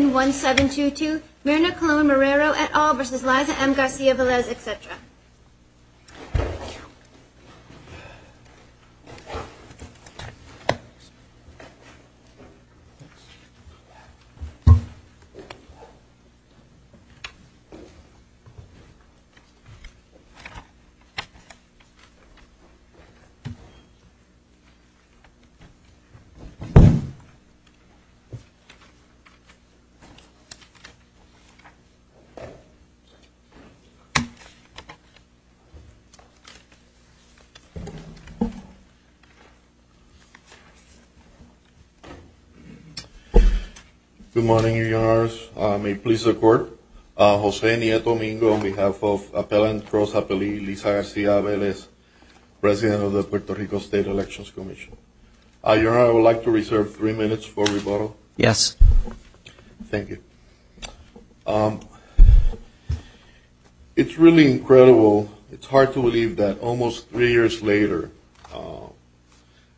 1-722 Myrna Colon-Marrero et al. v. Liza M. Garcia-Velez, etc. Good morning, Your Honors. May it please the Court, Jose Nieto Mingo on behalf of Appellant Rosa Pelli, Liza Garcia-Velez, President of the Puerto Rico State Elections Commission. Your Honor, I would like to reserve three minutes for rebuttal. Yes. Thank you. It's really incredible, it's hard to believe that almost three years later,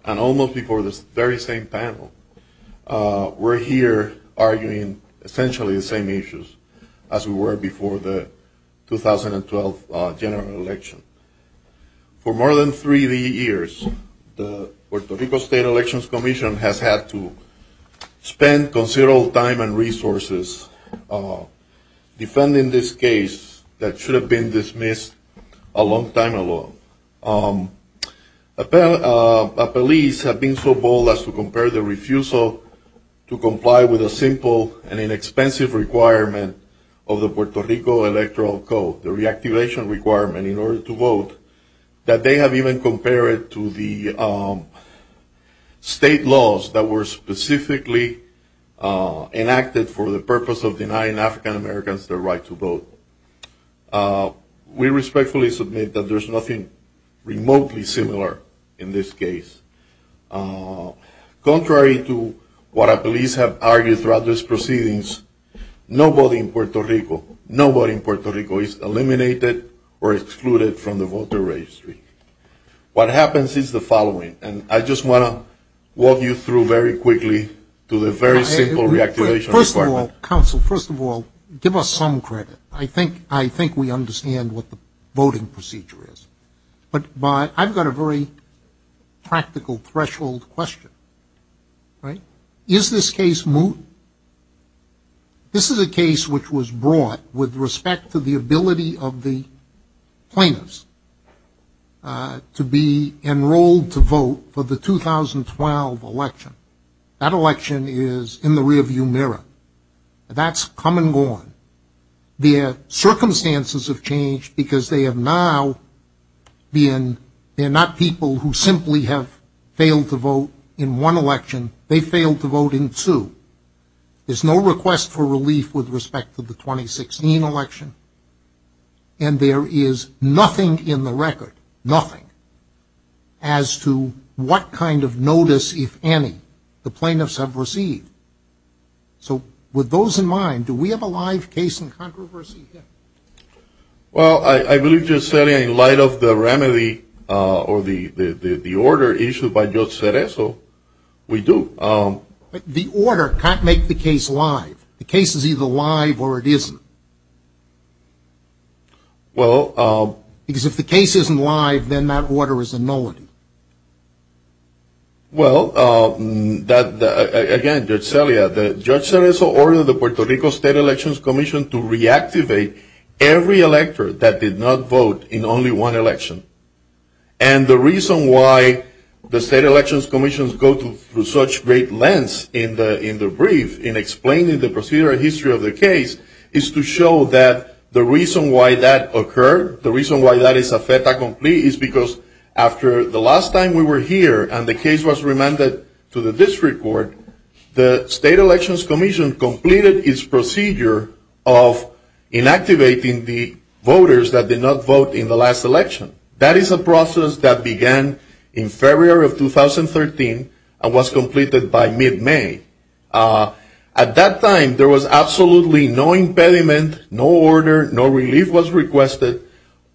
and almost before this very same panel, we're here arguing essentially the same issues as we were before the 2012 general election. For more than three years, the Puerto Rico State Elections Commission has had to spend considerable time and resources defending this case that should have been dismissed a long time ago. Appellees have been so bold as to compare the refusal to comply with a simple and inexpensive requirement of the Puerto Rico Electoral Code, the reactivation requirement in order to vote, that they have even compared it to the state laws that were specifically enacted for the purpose of denying African Americans the right to vote. We respectfully submit that there's nothing remotely similar in this case. Contrary to what appellees have argued throughout this proceedings, nobody in Puerto Rico, nobody in Puerto Rico is eliminated or excluded from the voter registry. What happens is the following, and I just want to walk you through very quickly to the very simple reactivation requirement. First of all, counsel, first of all, give us some credit. I think we understand what the voting procedure is. But I've got a very practical threshold question, right? Is this case moot? This is a case which was brought with respect to the ability of the plaintiffs to be enrolled to vote for the 2012 election. That election is in the rearview mirror. That's come and gone. Their circumstances have changed because they have now been, they're not people who simply have failed to vote in one election. They failed to vote in two. There's no request for relief with respect to the 2016 election. And there is nothing in the record, nothing, as to what kind of notice, if any, the plaintiffs have received. So with those in mind, do we have a live case in controversy here? Well, I believe just in light of the remedy or the order issued by Judge Cereso, we do. But the order can't make the case live. The case is either live or it isn't. Well. Because if the case isn't live, then that order is a nullity. Well, again, Judge Cereso ordered the Puerto Rico State Elections Commission to reactivate every elector that did not vote in only one election. And the reason why the state elections commissions go through such great lengths in the brief, in explaining the procedural history of the case, is to show that the reason why that occurred, the reason why that is a fait accompli, is because after the last time we were here and the case was remanded to the district court, the state elections commission completed its procedure of inactivating the voters that did not vote in the last election. That is a process that began in February of 2013 and was completed by mid-May. At that time, there was absolutely no impediment, no order, no relief was requested.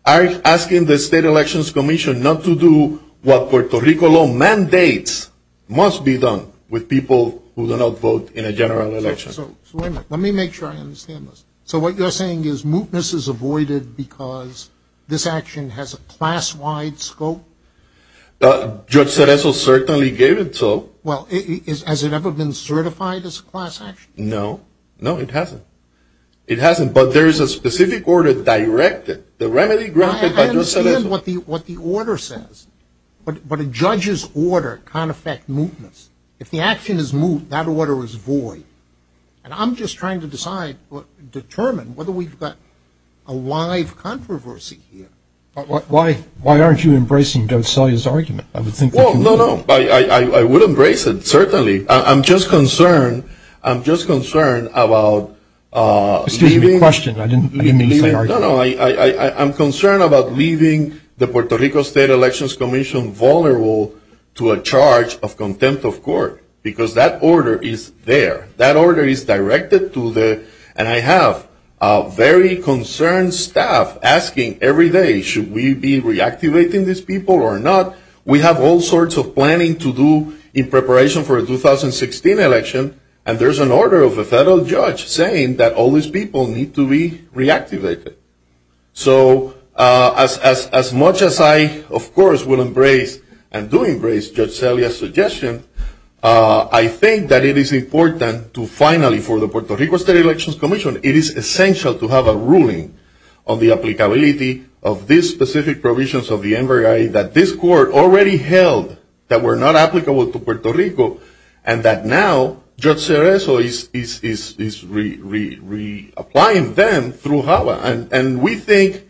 I'm asking the state elections commission not to do what Puerto Rico law mandates must be done with people who do not vote in a general election. So let me make sure I understand this. So what you're saying is mootness is avoided because this action has a class-wide scope? Judge Cereso certainly gave it so. Well, has it ever been certified as a class action? No. No, it hasn't. It hasn't, but there is a specific order directed. The remedy granted by Judge Cereso. I understand what the order says, but a judge's order can't affect mootness. If the action is moot, that order is void. And I'm just trying to decide, determine whether we've got a live controversy here. Why aren't you embracing Judge Cereso's argument? Well, no, no, I would embrace it, certainly. I'm just concerned. I'm just concerned about leaving. Excuse me, your question. I didn't mean to say argue. No, no, I'm concerned about leaving the Puerto Rico State Elections Commission vulnerable to a charge of contempt of court because that order is there. That order is directed to the, and I have very concerned staff asking every day, should we be reactivating these people or not? We have all sorts of planning to do in preparation for a 2016 election, and there's an order of a federal judge saying that all these people need to be reactivated. So as much as I, of course, will embrace and do embrace Judge Celia's suggestion, I think that it is important to finally, for the Puerto Rico State Elections Commission, it is essential to have a ruling on the applicability of these specific provisions of the NVRA that this court already held that were not applicable to Puerto Rico, and that now Judge Cereso is reapplying them through HAVA. And we think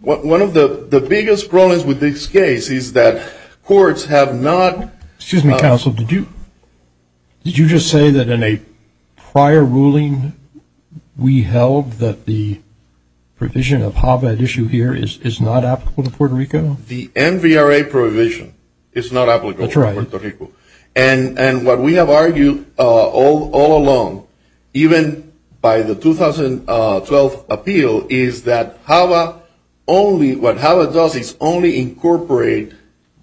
one of the biggest problems with this case is that courts have not. Excuse me, counsel. Did you just say that in a prior ruling we held that the provision of HAVA at issue here is not applicable to Puerto Rico? The NVRA provision is not applicable to Puerto Rico. And what we have argued all along, even by the 2012 appeal, is that HAVA only, what HAVA does is only incorporate,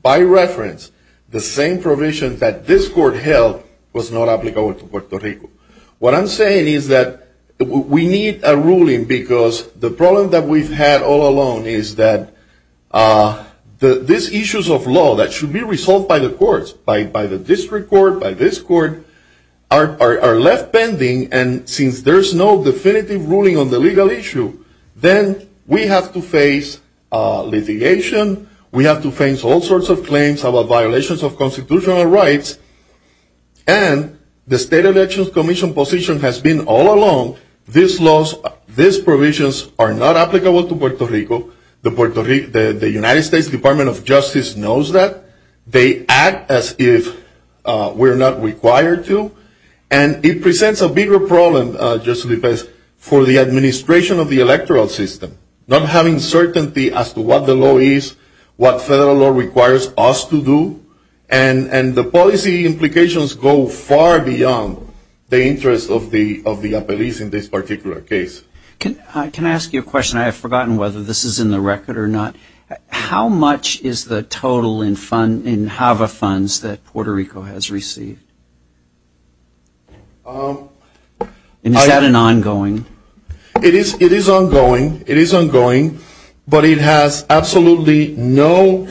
by reference, the same provisions that this court held was not applicable to Puerto Rico. What I'm saying is that we need a ruling because the problem that we've had all along is that these issues of law that should be resolved by the courts, by the district court, by this court, are left bending. And since there's no definitive ruling on the legal issue, then we have to face litigation. We have to face all sorts of claims about violations of constitutional rights. And the State Elections Commission position has been all along, these provisions are not applicable to Puerto Rico. The United States Department of Justice knows that. They act as if we're not required to. And it presents a bigger problem, just to be fair, for the administration of the electoral system, not having certainty as to what the law is, what federal law requires us to do. And the policy implications go far beyond the interest of the appellees in this particular case. Can I ask you a question? I have forgotten whether this is in the record or not. How much is the total in HAVA funds that Puerto Rico has received? And is that an ongoing? It is ongoing. It is ongoing. But it has absolutely no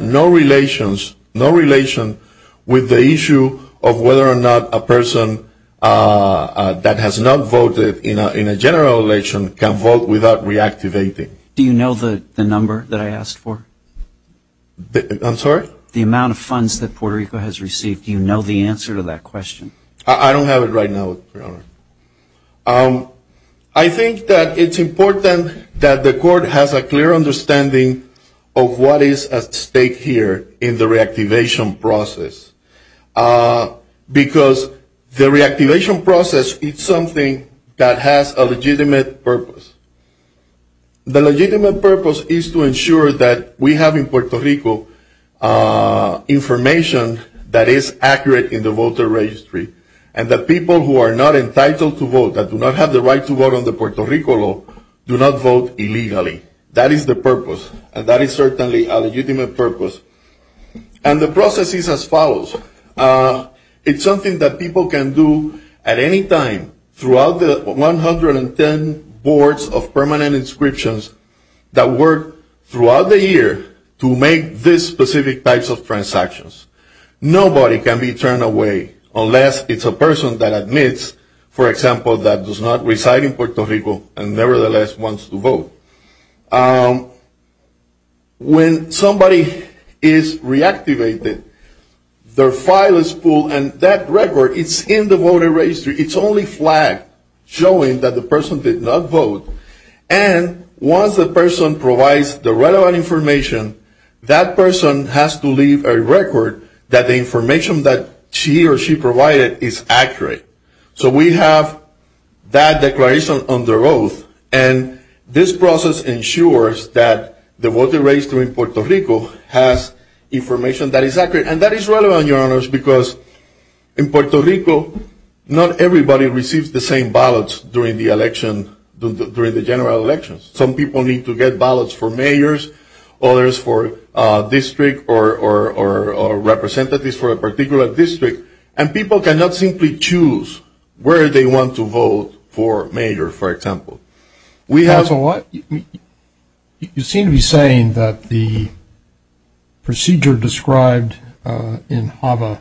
relations, no relation with the issue of whether or not a person that has not voted in a general election can vote without reactivating. Do you know the number that I asked for? I'm sorry? The amount of funds that Puerto Rico has received. Do you know the answer to that question? I don't have it right now, Your Honor. I think that it's important that the court has a clear understanding of what is at stake here in the reactivation process. Because the reactivation process is something that has a legitimate purpose. The legitimate purpose is to ensure that we have in Puerto Rico information that is accurate in the voter registry. And that people who are not entitled to vote, that do not have the right to vote on the Puerto Rico law, do not vote illegally. That is the purpose. And that is certainly a legitimate purpose. And the process is as follows. It's something that people can do at any time throughout the 110 boards of permanent inscriptions that work throughout the year to make these specific types of transactions. Nobody can be turned away unless it's a person that admits, for example, that does not reside in Puerto Rico and nevertheless wants to vote. When somebody is reactivated, their file is pulled and that record is in the voter registry. It's only flagged showing that the person did not vote. And once the person provides the relevant information, that person has to leave a record that the information that she or she provided is accurate. So we have that declaration on the road. And this process ensures that the voter registry in Puerto Rico has information that is accurate. And that is relevant, Your Honors, because in Puerto Rico, not everybody receives the same ballots during the election, during the general elections. Some people need to get ballots for mayors, others for district or representatives for a particular district. And people cannot simply choose where they want to vote for mayor, for example. We have a lot. You seem to be saying that the procedure described in HAVA,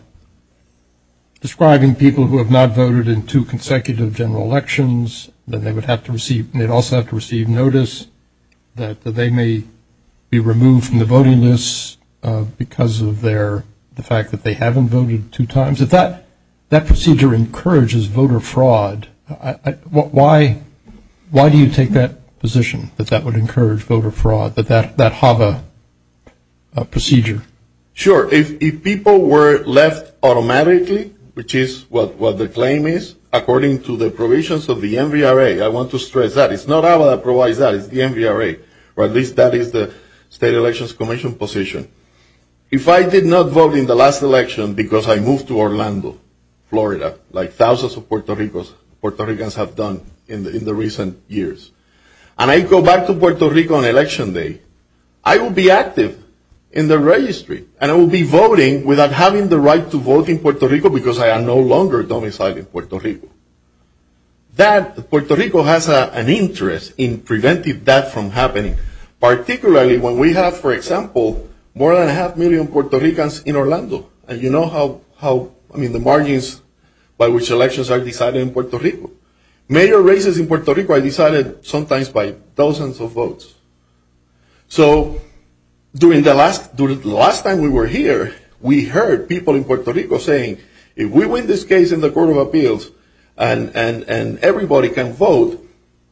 describing people who have not voted in two consecutive general elections, that they would have to receive, they'd also have to receive notice that they may be removed from the voting list because of their, the fact that they haven't voted two times. If that procedure encourages voter fraud, why do you take that position, that that would encourage voter fraud, that that HAVA procedure? Sure. If people were left automatically, which is what the claim is, according to the provisions of the NVRA, I want to stress that. It's not HAVA that provides that. It's the NVRA. Or at least that is the State Elections Commission position. If I did not vote in the last election because I moved to Orlando, Florida, like thousands of Puerto Ricans have done in the recent years, and I go back to Puerto Rico on election day, I will be active in the registry. And I will be voting without having the right to vote in Puerto Rico because I am no longer domiciled in Puerto Rico. That, Puerto Rico has an interest in preventing that from happening. Particularly when we have, for example, more than half a million Puerto Ricans in Orlando. And you know how, I mean, the margins by which elections are decided in Puerto Rico. Mayor races in Puerto Rico are decided sometimes by thousands of votes. So during the last time we were here, we heard people in Puerto Rico saying, if we win this case in the Court of Appeals and everybody can vote,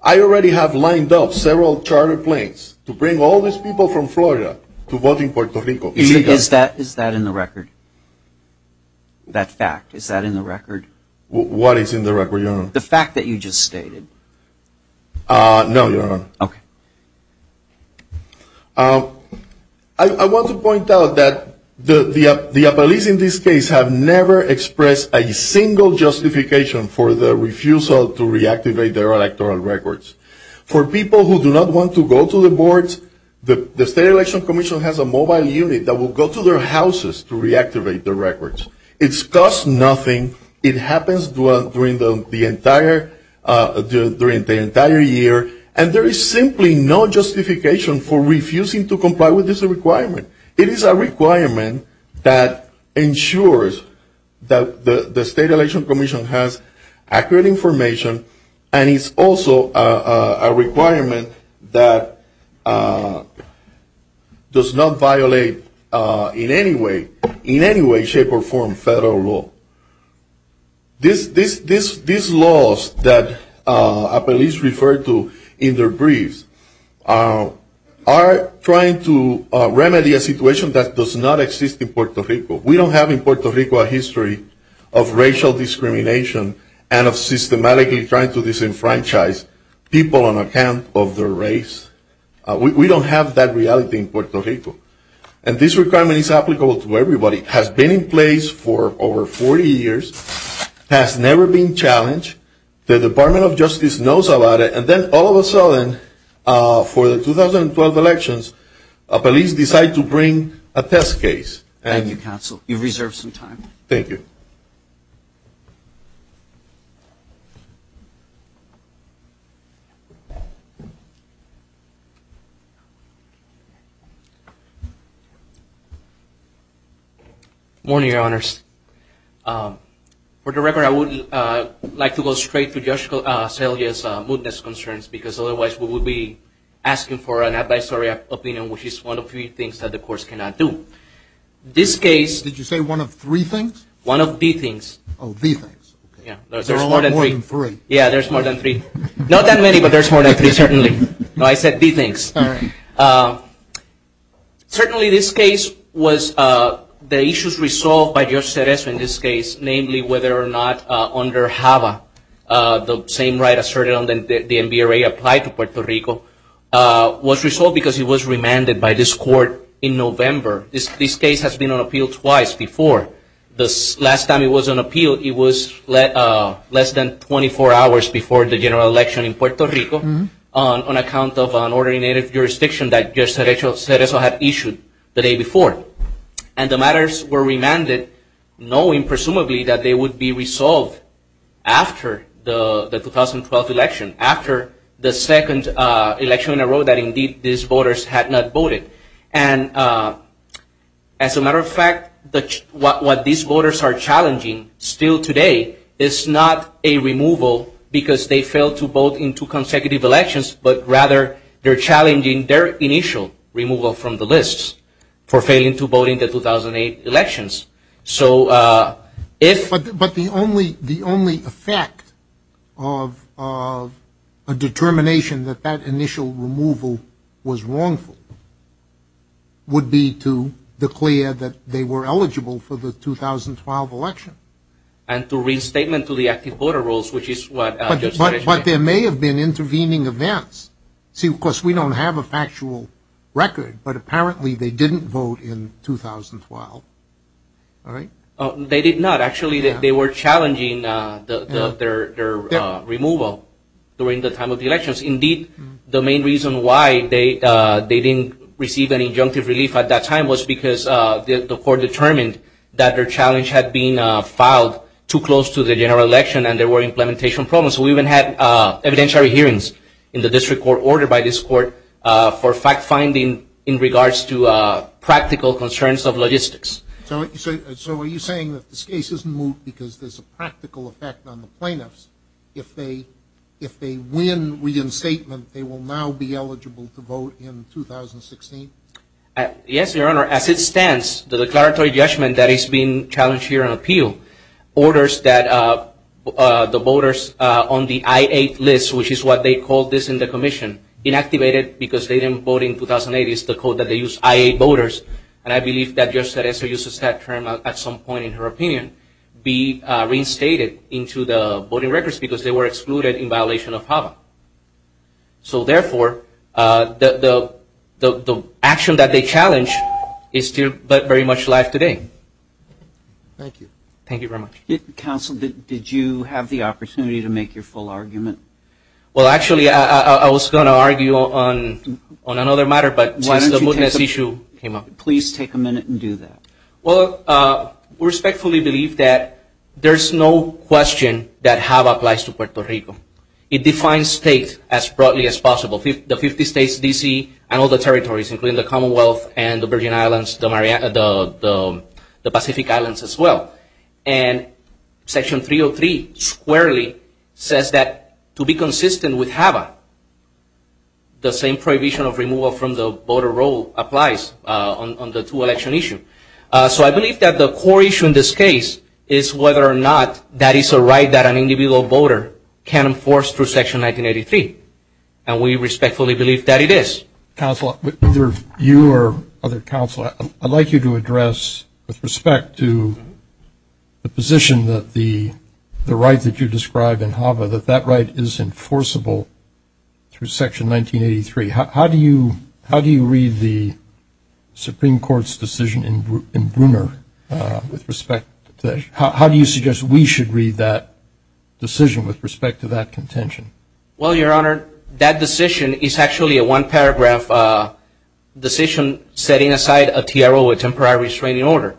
I already have lined up several charter planes to bring all these people from Florida to vote in Puerto Rico. Is that in the record? That fact, is that in the record? What is in the record, your honor? The fact that you just stated. No, your honor. Okay. I want to point out that the appellees in this case have never expressed a single justification for the refusal to reactivate their electoral records. For people who do not want to go to the boards, the State Election Commission has a mobile unit that will go to their houses to reactivate their records. It costs nothing. It happens during the entire year. And there is simply no justification for refusing to comply with this requirement. It is a requirement that ensures that the State Election Commission has accurate information, and it's also a requirement that does not violate in any way, in any way, shape, or form federal law. These laws that appellees refer to in their briefs are trying to remedy a situation that does not exist in Puerto Rico. We don't have in Puerto Rico a history of racial discrimination and of systematically trying to disenfranchise people on account of their race. We don't have that reality in Puerto Rico. And this requirement is applicable to everybody. It has been in place for over 40 years. It has never been challenged. The Department of Justice knows about it. And then all of a sudden, for the 2012 elections, police decide to bring a test case. Thank you, Counsel. You've reserved some time. Thank you. Good morning, Your Honors. For the record, I would like to go straight to Judge Celia's mootness concerns, because otherwise we would be asking for an advisory opinion, which is one of three things that the Court cannot do. Did you say one of three things? One of the things. Oh, the things. There are more than three. Yeah, there's more than three. Not that many, but there's more than three, certainly. No, I said the things. All right. Certainly this case was the issues resolved by Judge Cerezo in this case, namely whether or not under HAVA, the same right asserted on the NBRA applied to Puerto Rico, was resolved because he was remanded by this Court in November. This case has been on appeal twice before. The last time it was on appeal, it was less than 24 hours before the general election in Puerto Rico, on account of an ordinary native jurisdiction that Judge Cerezo had issued the day before. And the matters were remanded, knowing presumably that they would be resolved after the 2012 election, after the second election in a row that indeed these voters had not voted. And as a matter of fact, what these voters are challenging still today is not a removal, because they failed to vote in two consecutive elections, but rather they're challenging their initial removal from the lists for failing to vote in the 2008 elections. But the only effect of a determination that that initial removal was wrongful would be to declare that they were eligible for the 2012 election. And to restatement to the active voter rolls, which is what Judge Cerezo said. But there may have been intervening events. See, of course, we don't have a factual record, but apparently they didn't vote in 2012. All right? They did not. Actually, they were challenging their removal during the time of the elections. Indeed, the main reason why they didn't receive any injunctive relief at that time was because the Court determined that their challenge had been filed too close to the general election and there were implementation problems. We even had evidentiary hearings in the district court ordered by this Court for fact-finding in regards to practical concerns of logistics. So are you saying that this case isn't moot because there's a practical effect on the plaintiffs? If they win reinstatement, they will now be eligible to vote in 2016? Yes, Your Honor. As it stands, the declaratory judgment that is being challenged here on appeal orders that the voters on the I-8 list, which is what they call this in the commission, inactivated because they didn't vote in 2008. It's the code that they use, I-8 voters. And I believe that Judge Cerezo uses that term at some point in her opinion, be reinstated into the voting records because they were excluded in violation of HAVA. So therefore, the action that they challenge is still very much alive today. Thank you. Thank you very much. Counsel, did you have the opportunity to make your full argument? Well, actually, I was going to argue on another matter, but since the mootness issue came up. Please take a minute and do that. Well, we respectfully believe that there's no question that HAVA applies to Puerto Rico. It defines states as broadly as possible, the 50 states, D.C., and all the territories, including the Commonwealth and the Virgin Islands, the Pacific Islands as well. And Section 303 squarely says that to be consistent with HAVA, the same prohibition of removal from the voter roll applies on the two-election issue. So I believe that the core issue in this case is whether or not that is a right that an individual voter can enforce through Section 1983, and we respectfully believe that it is. Counsel, either you or other counsel, I'd like you to address with respect to the position that the right that you describe in HAVA, that that right is enforceable through Section 1983. How do you read the Supreme Court's decision in Bruner with respect to that? How do you suggest we should read that decision with respect to that contention? Well, Your Honor, that decision is actually a one-paragraph decision setting aside a TRO, a Temporary Restraining Order,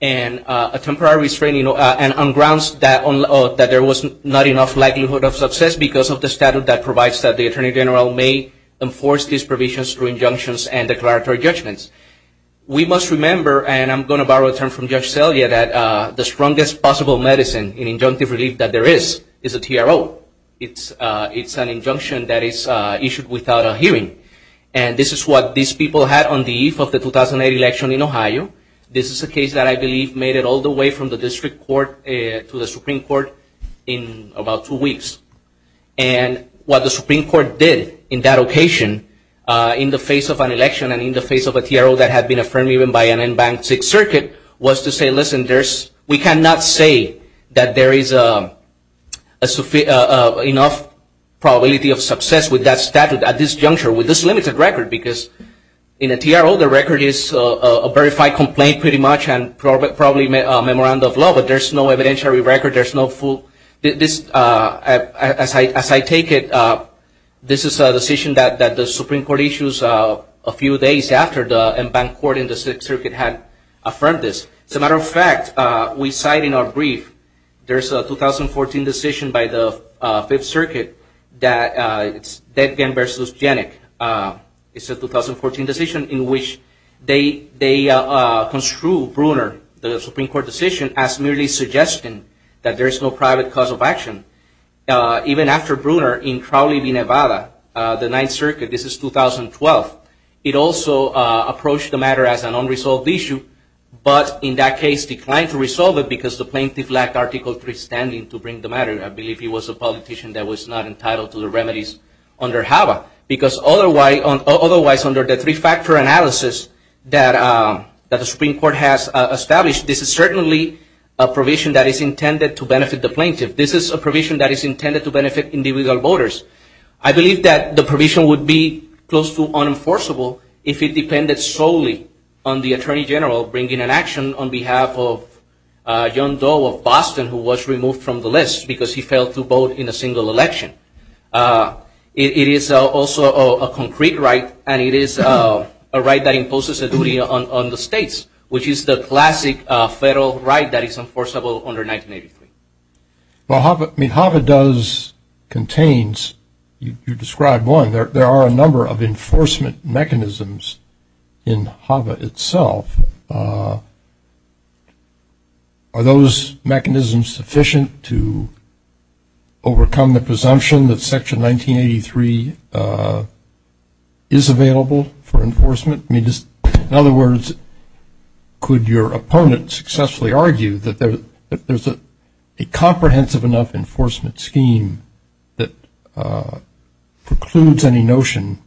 and on grounds that there was not enough likelihood of success because of the statute that provides that the Attorney General may enforce these provisions through injunctions and declaratory judgments. We must remember, and I'm going to borrow a term from Judge Celia, that the strongest possible medicine in injunctive relief that there is is a TRO. It's an injunction that is issued without a hearing, and this is what these people had on the eve of the 2008 election in Ohio. This is a case that I believe made it all the way from the District Court to the Supreme Court in about two weeks. And what the Supreme Court did in that occasion in the face of an election and in the face of a TRO that had been affirmed even by an unbanked Sixth Circuit was to say, listen, we cannot say that there is enough probability of success with that statute at this juncture with this limited record because in a TRO, the record is a verified complaint pretty much and probably a memorandum of law, but there's no evidentiary record. As I take it, this is a decision that the Supreme Court issued a few days after the unbanked court in the Sixth Circuit had affirmed this. As a matter of fact, we cite in our brief, there's a 2014 decision by the Fifth Circuit that it's Dedgen v. Janik. It's a 2014 decision in which they construed Bruner, the Supreme Court decision, as merely suggesting that there is no private cause of action. Even after Bruner in Crowley v. Nevada, the Ninth Circuit, this is 2012, it also approached the matter as an unresolved issue, but in that case declined to resolve it because the plaintiff lacked Article III standing to bring the matter. I believe he was a politician that was not entitled to the remedies under HABA because otherwise under the three-factor analysis that the Supreme Court has established, this is certainly a provision that is intended to benefit the plaintiff. This is a provision that is intended to benefit individual voters. I believe that the provision would be close to unenforceable if it depended solely on the Attorney General bringing an action on behalf of John Doe of Boston, who was removed from the list because he failed to vote in a single election. It is also a concrete right, and it is a right that imposes a duty on the states, which is the classic federal right that is enforceable under 1983. Well, HABA does, contains, you described one. There are a number of enforcement mechanisms in HABA itself. Are those mechanisms sufficient to overcome the presumption that Section 1983 is available for enforcement? In other words, could your opponent successfully argue that there's a comprehensive enough enforcement scheme that precludes any notion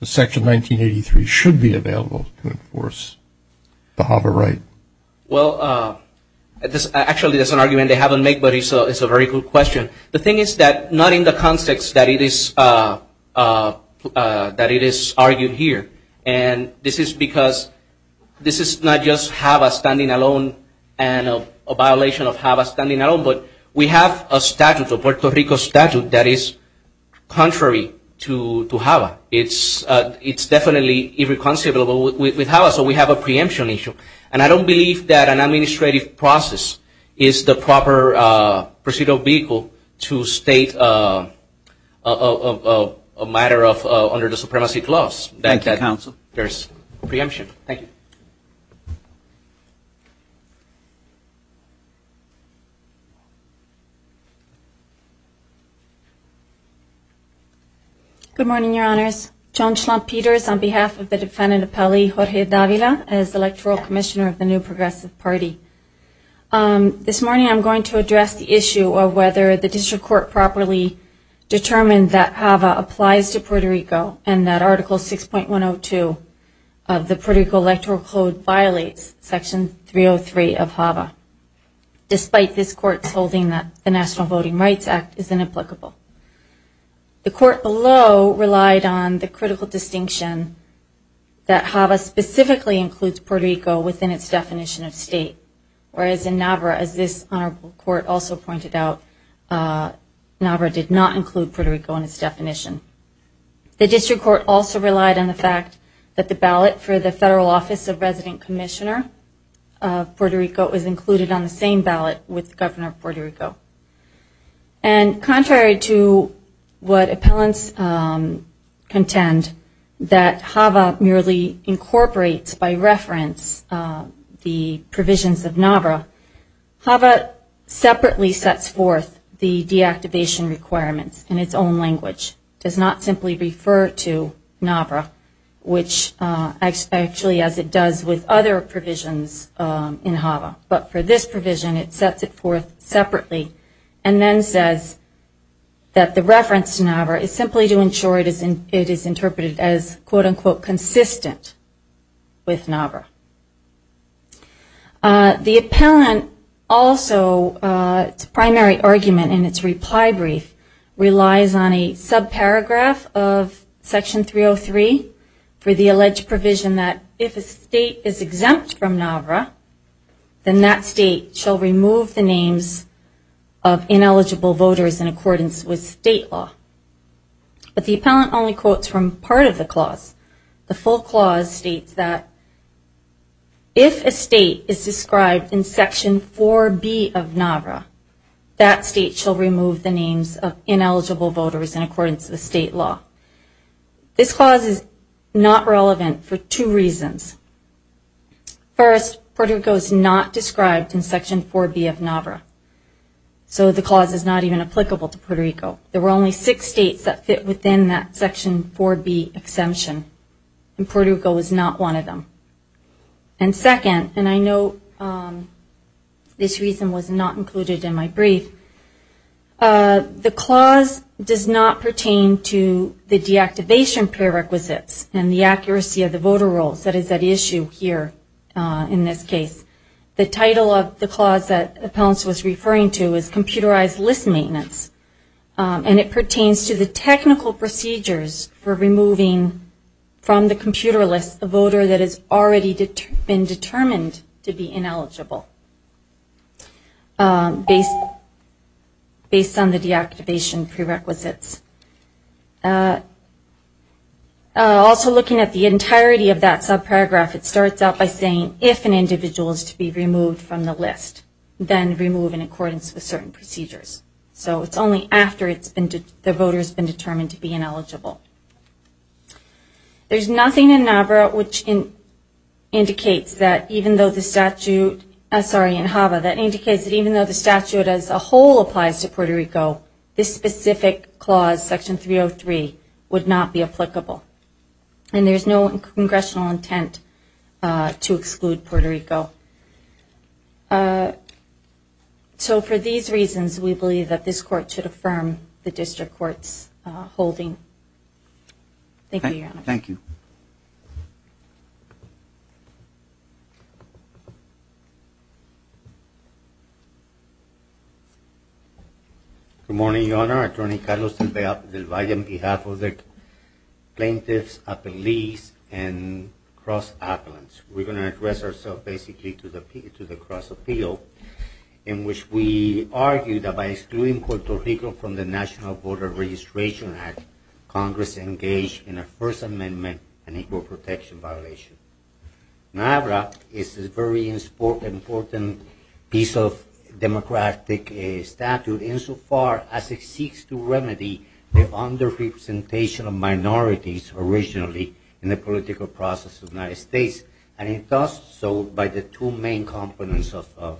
that Section 1983 should be available to enforce the HABA right? Well, actually, that's an argument they haven't made, but it's a very good question. The thing is that not in the context that it is argued here. And this is because this is not just HABA standing alone and a violation of HABA standing alone, but we have a statute, a Puerto Rico statute, that is contrary to HABA. It's definitely irreconcilable with HABA, so we have a preemption issue. And I don't believe that an administrative process is the proper procedural vehicle to state a matter under the supremacy clause. Thank you, Counsel. There's a preemption. Thank you. Good morning, Your Honors. John Schlamp-Peters on behalf of the defendant appellee, Jorge Davila, as Electoral Commissioner of the New Progressive Party. This morning I'm going to address the issue of whether the district court properly determined that HABA applies to Puerto Rico and that Article 6.102 of the Puerto Rico Electoral Code violates Section 303 of HABA, despite this court's holding that the National Voting Rights Act is inapplicable. The court below relied on the critical distinction that HABA specifically includes Puerto Rico within its definition of state, whereas in NAVRA, as this honorable court also pointed out, NAVRA did not include Puerto Rico in its definition. The district court also relied on the fact that the ballot for the federal office of resident commissioner of Puerto Rico was included on the same ballot with the governor of Puerto Rico. And contrary to what appellants contend, that HABA merely incorporates by reference the provisions of NAVRA, HABA separately sets forth the deactivation requirements in its own language. It does not simply refer to NAVRA, which actually as it does with other provisions in HABA. But for this provision, it sets it forth separately and then says that the reference to NAVRA is simply to ensure it is interpreted as quote-unquote consistent with NAVRA. The appellant also, its primary argument in its reply brief relies on a subparagraph of Section 303 for the alleged provision that if a state is exempt from NAVRA, then that state shall remove the names of ineligible voters in accordance with state law. But the appellant only quotes from part of the clause. The full clause states that if a state is described in Section 4B of NAVRA, that state shall remove the names of ineligible voters in accordance with state law. This clause is not relevant for two reasons. First, Puerto Rico is not described in Section 4B of NAVRA. So the clause is not even applicable to Puerto Rico. There were only six states that fit within that Section 4B exemption and Puerto Rico was not one of them. And second, and I know this reason was not included in my brief, the clause does not pertain to the deactivation prerequisites and the accuracy of the voter rolls. That is at issue here in this case. The title of the clause that the appellant was referring to is computerized list maintenance. And it pertains to the technical procedures for removing from the computer list a voter that has already been determined to be ineligible based on the deactivation prerequisites. Also looking at the entirety of that subparagraph, it starts out by saying if an individual is to be removed from the list, then remove in accordance with certain procedures. So it's only after the voter has been determined to be ineligible. There's nothing in NAVRA which indicates that even though the statute, sorry in HAVA, that indicates that even though the statute as a whole applies to Puerto Rico, this specific clause, Section 303, would not be applicable. And there's no congressional intent to exclude Puerto Rico. So for these reasons, we believe that this court should affirm the district court's holding. Thank you, Your Honor. Good morning, Your Honor. Attorney Carlos Del Valle on behalf of the plaintiffs, police, and cross-appellants. We're going to address ourselves basically to the cross-appeal in which we argue that by excluding Puerto Rico from the National Voter Registration Act, Congress engaged in a First Amendment and equal protection violation. NAVRA is a very important piece of democratic statute insofar as it seeks to remedy the under-representation of minorities originally in the political process of the United States. And it does so by the two main components of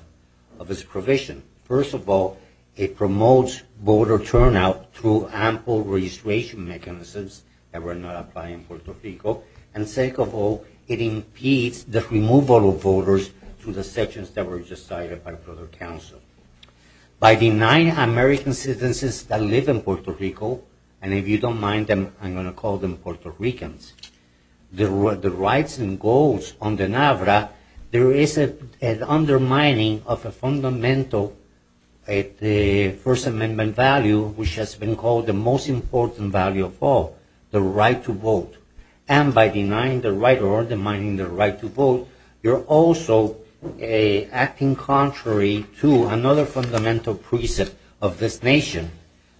its provision. First of all, it promotes voter turnout through ample registration mechanisms that were not applied in Puerto Rico. And second of all, it impedes the removal of voters to the sections that were decided by federal counsel. By denying American citizens that live in Puerto Rico, and if you don't mind, I'm going to call them Puerto Ricans, the rights and goals under NAVRA, there is an undermining of a fundamental First Amendment value, which has been called the most important value of all, the right to vote. And by denying the right or undermining the right to vote, you're also acting contrary to another fundamental precept of this nation,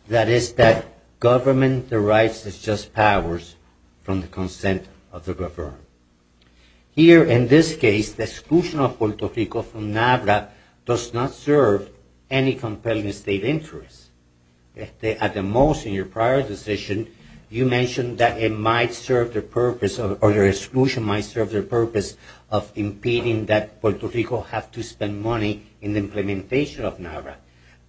that is that government derives its just powers from the Constitution. Here, in this case, the exclusion of Puerto Rico from NAVRA does not serve any compelling state interest. At the most, in your prior decision, you mentioned that it might serve the purpose, or the exclusion might serve the purpose of impeding that Puerto Rico have to spend money in the implementation of NAVRA.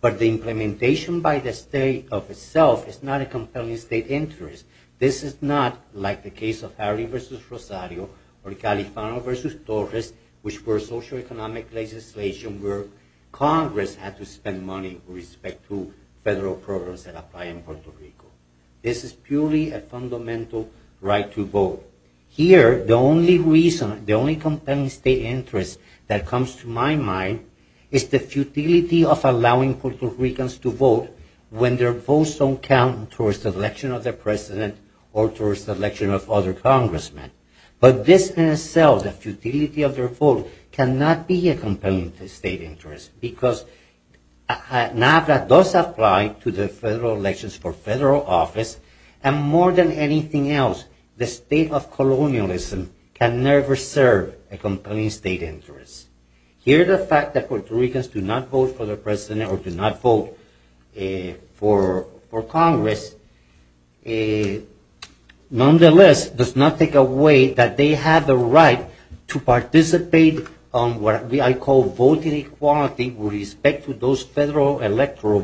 But the implementation by the state of itself is not a compelling state interest. This is not like the case of Harry v. Rosario or Califano v. Torres, which were socioeconomic legislation where Congress had to spend money with respect to federal programs that apply in Puerto Rico. This is purely a fundamental right to vote. Here, the only reason, the only compelling state interest that comes to my mind is the futility of allowing Puerto Ricans to vote when their votes don't count towards the election of their president. Or towards the election of other congressmen. But this in itself, the futility of their vote, cannot be a compelling state interest. Because NAVRA does apply to the federal elections for federal office. And more than anything else, the state of colonialism can never serve a compelling state interest. Here, the fact that Puerto Ricans do not vote for the president or do not vote for Congress, nonetheless, does not take away that they have the right to participate on what I call voting equality with respect to those federal electoral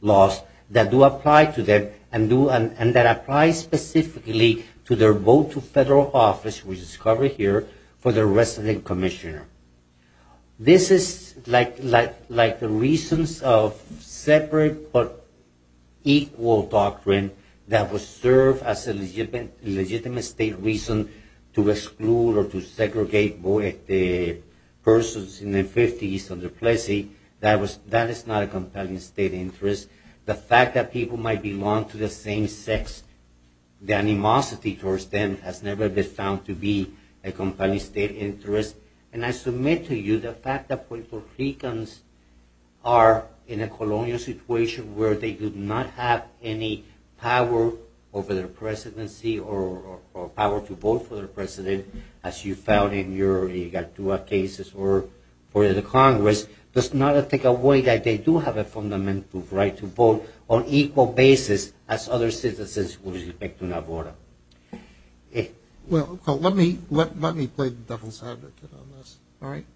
laws that do apply to them. And that apply specifically to their vote to federal office, which is covered here, for the resident commissioner. This is like the reasons of separate but equal doctrine that was served as a legitimate state reason to exclude or to segregate persons in the 50s under Plessy. That is not a compelling state interest. The fact that people might belong to the same sex, the animosity towards them has never been found to be a compelling state interest. And I submit to you the fact that Puerto Ricans are in a colonial situation where they do not have any power over their presidency or power to vote for their president, as you found in your EGATUA cases for the Congress, does not take away that they do have a fundamental right to vote on equal basis as other citizens with respect to NAVRA. Well, let me play the devil's advocate on this, all right?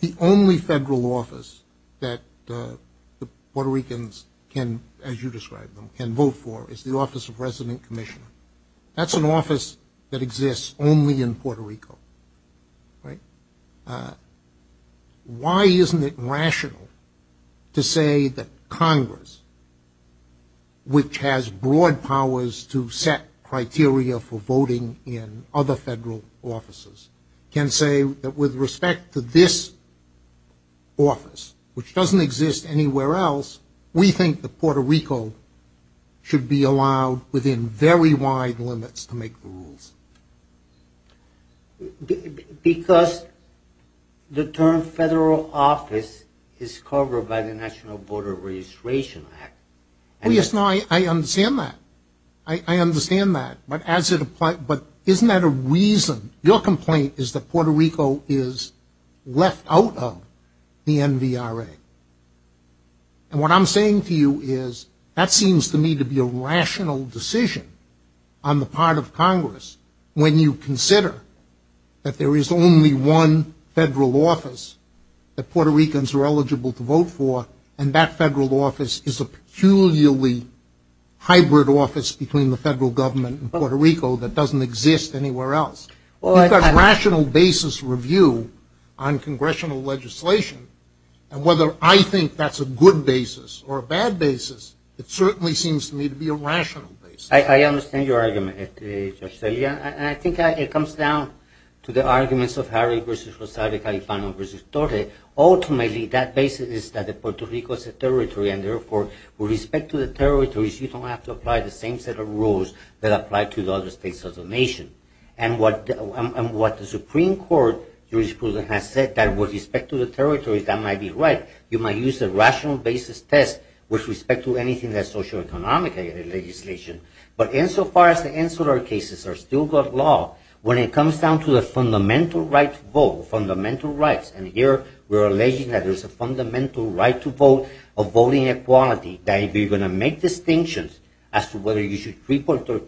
The only federal office that Puerto Ricans can, as you described them, can vote for is the office of resident commissioner. That's an office that exists only in Puerto Rico, right? Why isn't it rational to say that Congress, which has broad powers to set criteria, for voting in other federal offices, can say that with respect to this office, which doesn't exist anywhere else, we think that Puerto Rico should be allowed within very wide limits to make the rules? Because the term federal office is covered by the National Voter Registration Act. Oh, yes, no, I understand that. I understand that, but isn't that a reason? Your complaint is that Puerto Rico is left out of the NVRA. And what I'm saying to you is that seems to me to be a rational decision on the part of Congress when you consider that there is only one federal office that Puerto Ricans are eligible to vote for, and that federal office is a peculiarly hybrid office between the federal government and Puerto Rico that doesn't exist anywhere else. You've got rational basis review on congressional legislation. And whether I think that's a good basis or a bad basis, it certainly seems to me to be a rational basis. I understand your argument, Judge Celia. And I think it comes down to the arguments of Harry v. Rosario, Califano v. Tote. Ultimately, that basis is that Puerto Rico is a territory, and therefore, with respect to the territories, you don't have to apply the same set of rules that apply to the other states of the nation. And what the Supreme Court has said that with respect to the territories, that might be right. You might use a rational basis test with respect to anything that's socioeconomic legislation. But insofar as the insular cases are still good law, when it comes down to the fundamental right to vote, fundamental rights, and here we're alleging that there's a fundamental right to vote, a voting equality, that if you're going to make distinctions as to whether you should treat Puerto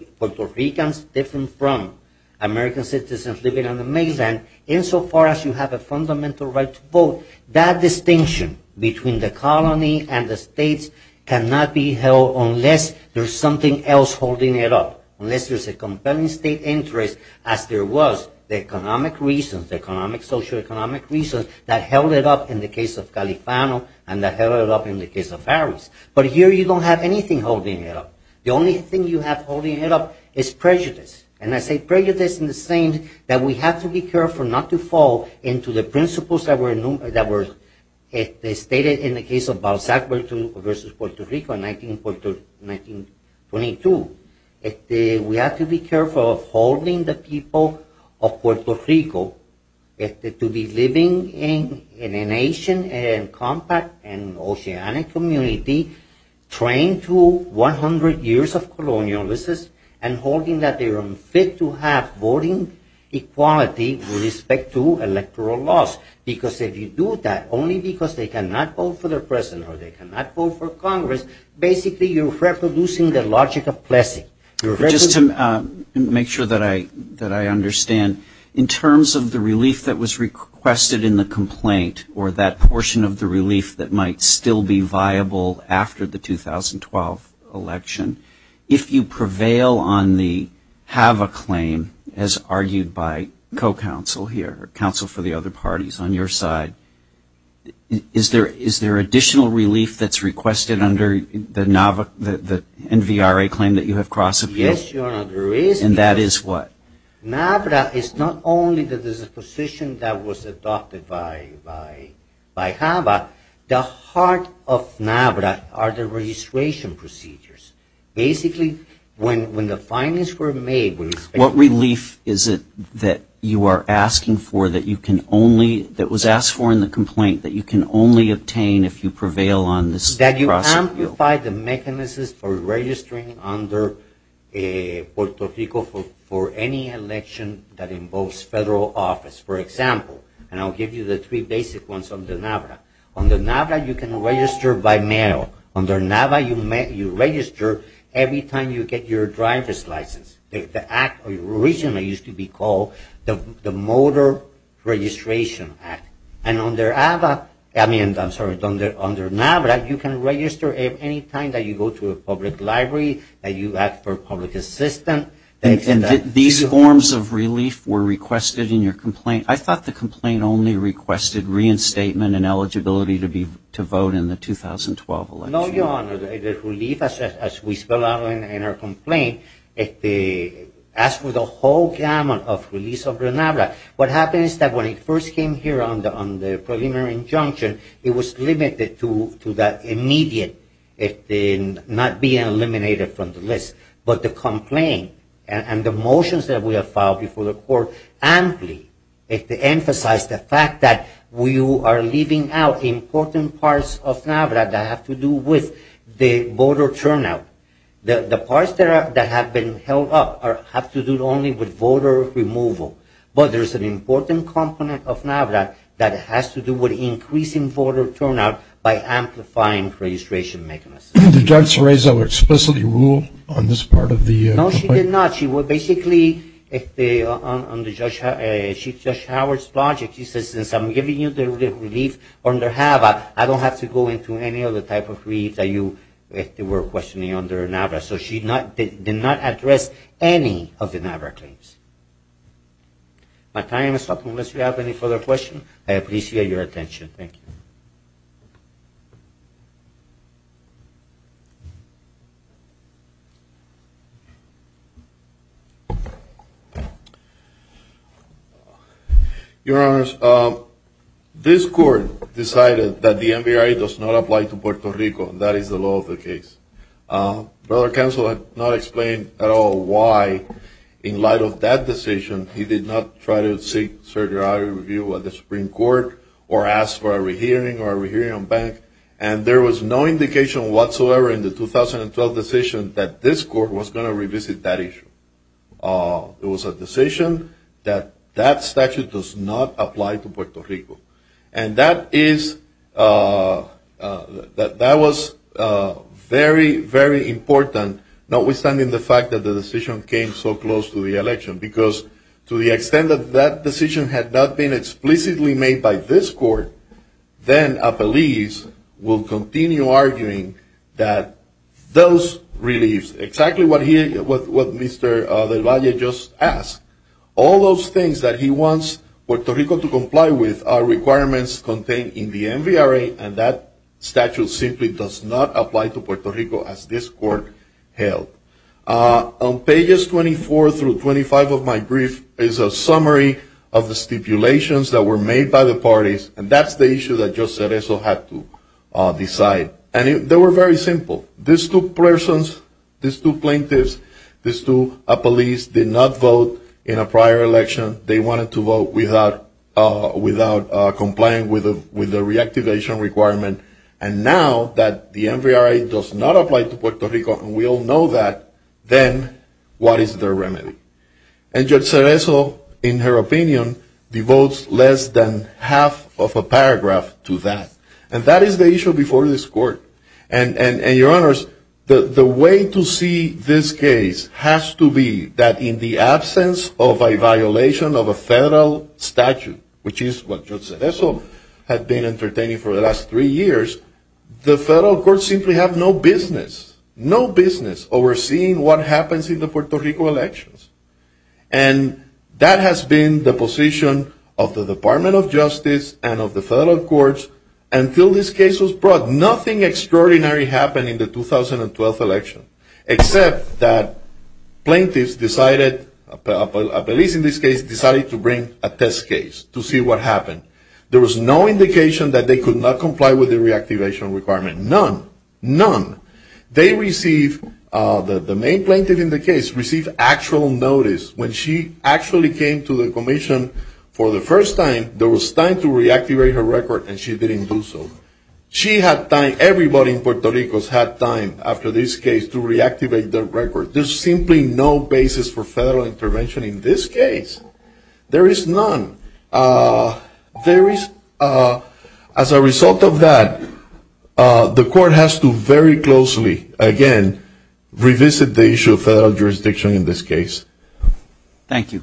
Ricans different from American citizens living on the mainland, insofar as you have a fundamental right to vote, that distinction between the colony and the states cannot be held unless there's something else that you can do. Unless there's a compelling state interest as there was the economic reasons, the socioeconomic reasons that held it up in the case of Califano and that held it up in the case of Harris. But here you don't have anything holding it up. The only thing you have holding it up is prejudice. And I say prejudice in the sense that we have to be careful not to fall into the principles that were stated in the case of Balzac v. Puerto Rico in 1922. We have to be careful of holding the people of Puerto Rico to be living in a nation and compact and oceanic community trained to 100 years of colonialism and holding that they're unfit to have voting equality with respect to electoral laws. Because if you do that, only because they cannot vote for their president or they cannot vote for Congress, basically you're reproducing the logic of pleasure. You're reproducing the logic of pleasure. But just to make sure that I understand, in terms of the relief that was requested in the complaint or that portion of the relief that might still be viable after the 2012 election, if you prevail on the have a claim as argued by co-counsel here, counsel for the other parties on your side, is there additional relief that's requested under the NVRA claim that you have requested? Yes, Your Honor, there is. And that is what? NAVRA is not only the disposition that was adopted by HAVA, the heart of NAVRA are the registration procedures. Basically, when the findings were made... What relief is it that you are asking for that you can only, that was asked for in the complaint, that you can only obtain if you prevail on this process? That you amplify the mechanisms for registering under Puerto Rico for any election that involves federal office. For example, and I'll give you the three basic ones on the NAVRA. Under NAVRA, you can register by mail. Under NAVRA, you register every time you get your driver's license. The act originally used to be called the Motor Registration Act. And under NAVRA, you can register any time that you go to a public library, that you ask for public assistance. And these forms of relief were requested in your complaint? I thought the complaint only requested reinstatement and eligibility to vote in the 2012 election. No, Your Honor. The relief, as we spell out in our complaint, as for the whole gamut of release under NAVRA, what happens is that when it first came here on the preliminary injunction, it was limited to that immediate, not being eliminated from the list. But the complaint and the motions that we have filed before the court amply emphasize the fact that we are leaving out important parts of NAVRA that have to do with the voter turnout. The parts that have been held up have to do only with voter removal. But there's an important component of NAVRA that has to do with increasing voter turnout by amplifying registration mechanisms. Did Judge Cerezo explicitly rule on this part of the complaint? No, she did not. She basically, on Chief Judge Howard's project, she says since I'm giving you the relief under HAVA, I don't have to go into any other type of relief that you were questioning under NAVRA. So she did not address any of the NAVRA claims. My time is up. Thank you. Unless you have any further questions, I appreciate your attention. Thank you. Your Honors, this court decided that the NBRA does not apply to Puerto Rico. That is the law of the case. Brother Counsel has not explained at all why, in light of that decision, he did not try to seek certiorari review at the Supreme Court or ask for a re-hearing or a re-hearing on bank. And there was no indication whatsoever in the 2012 decision that this court was going to revisit that issue. It was a decision that that statute does not apply to Puerto Rico. And that is, that was very, very important, notwithstanding the fact that the decision came so close to the election. Because to the extent that that decision had not been explicitly made by this court, then a police will continue arguing that those reliefs, exactly what Mr. Del Valle just asked. All those things that he wants Puerto Rico to comply with are requirements contained in the NBRA. And that statute simply does not apply to Puerto Rico as this court held. On pages 24 through 25 of my brief is a summary of the stipulations that were made by the parties. And that's the issue that Judge Cerezo had to decide. And they were very simple. These two persons, these two plaintiffs, these two police did not vote in a prior election. They wanted to vote without complying with the reactivation requirement. And now that the NBRA does not apply to Puerto Rico, and we all know that, then what is their remedy? And Judge Cerezo, in her opinion, devotes less than half of a paragraph to that. And that is the issue before this court. And your honors, the way to see this case has to be that in the absence of a violation of a federal statute, which is what Judge Cerezo had been entertaining for the last three years, the federal courts simply have no business, no business overseeing what happens in the Puerto Rico elections. And that has been the position of the Department of Justice and of the federal courts until this case was brought. Nothing extraordinary happened in the 2012 election, except that plaintiffs decided, police in this case, decided to bring a test case to see what happened. There was no indication that they could not comply with the reactivation requirement, none, none. They received, the main plaintiff in the case, received actual notice. When she actually came to the commission for the first time, there was time to reactivate her record, and she didn't do so. She had time, everybody in Puerto Rico has had time after this case to reactivate their record. There's simply no basis for federal intervention in this case. There is none. As a result of that, the court has to very closely, again, revisit the issue of federal jurisdiction in this case. Thank you.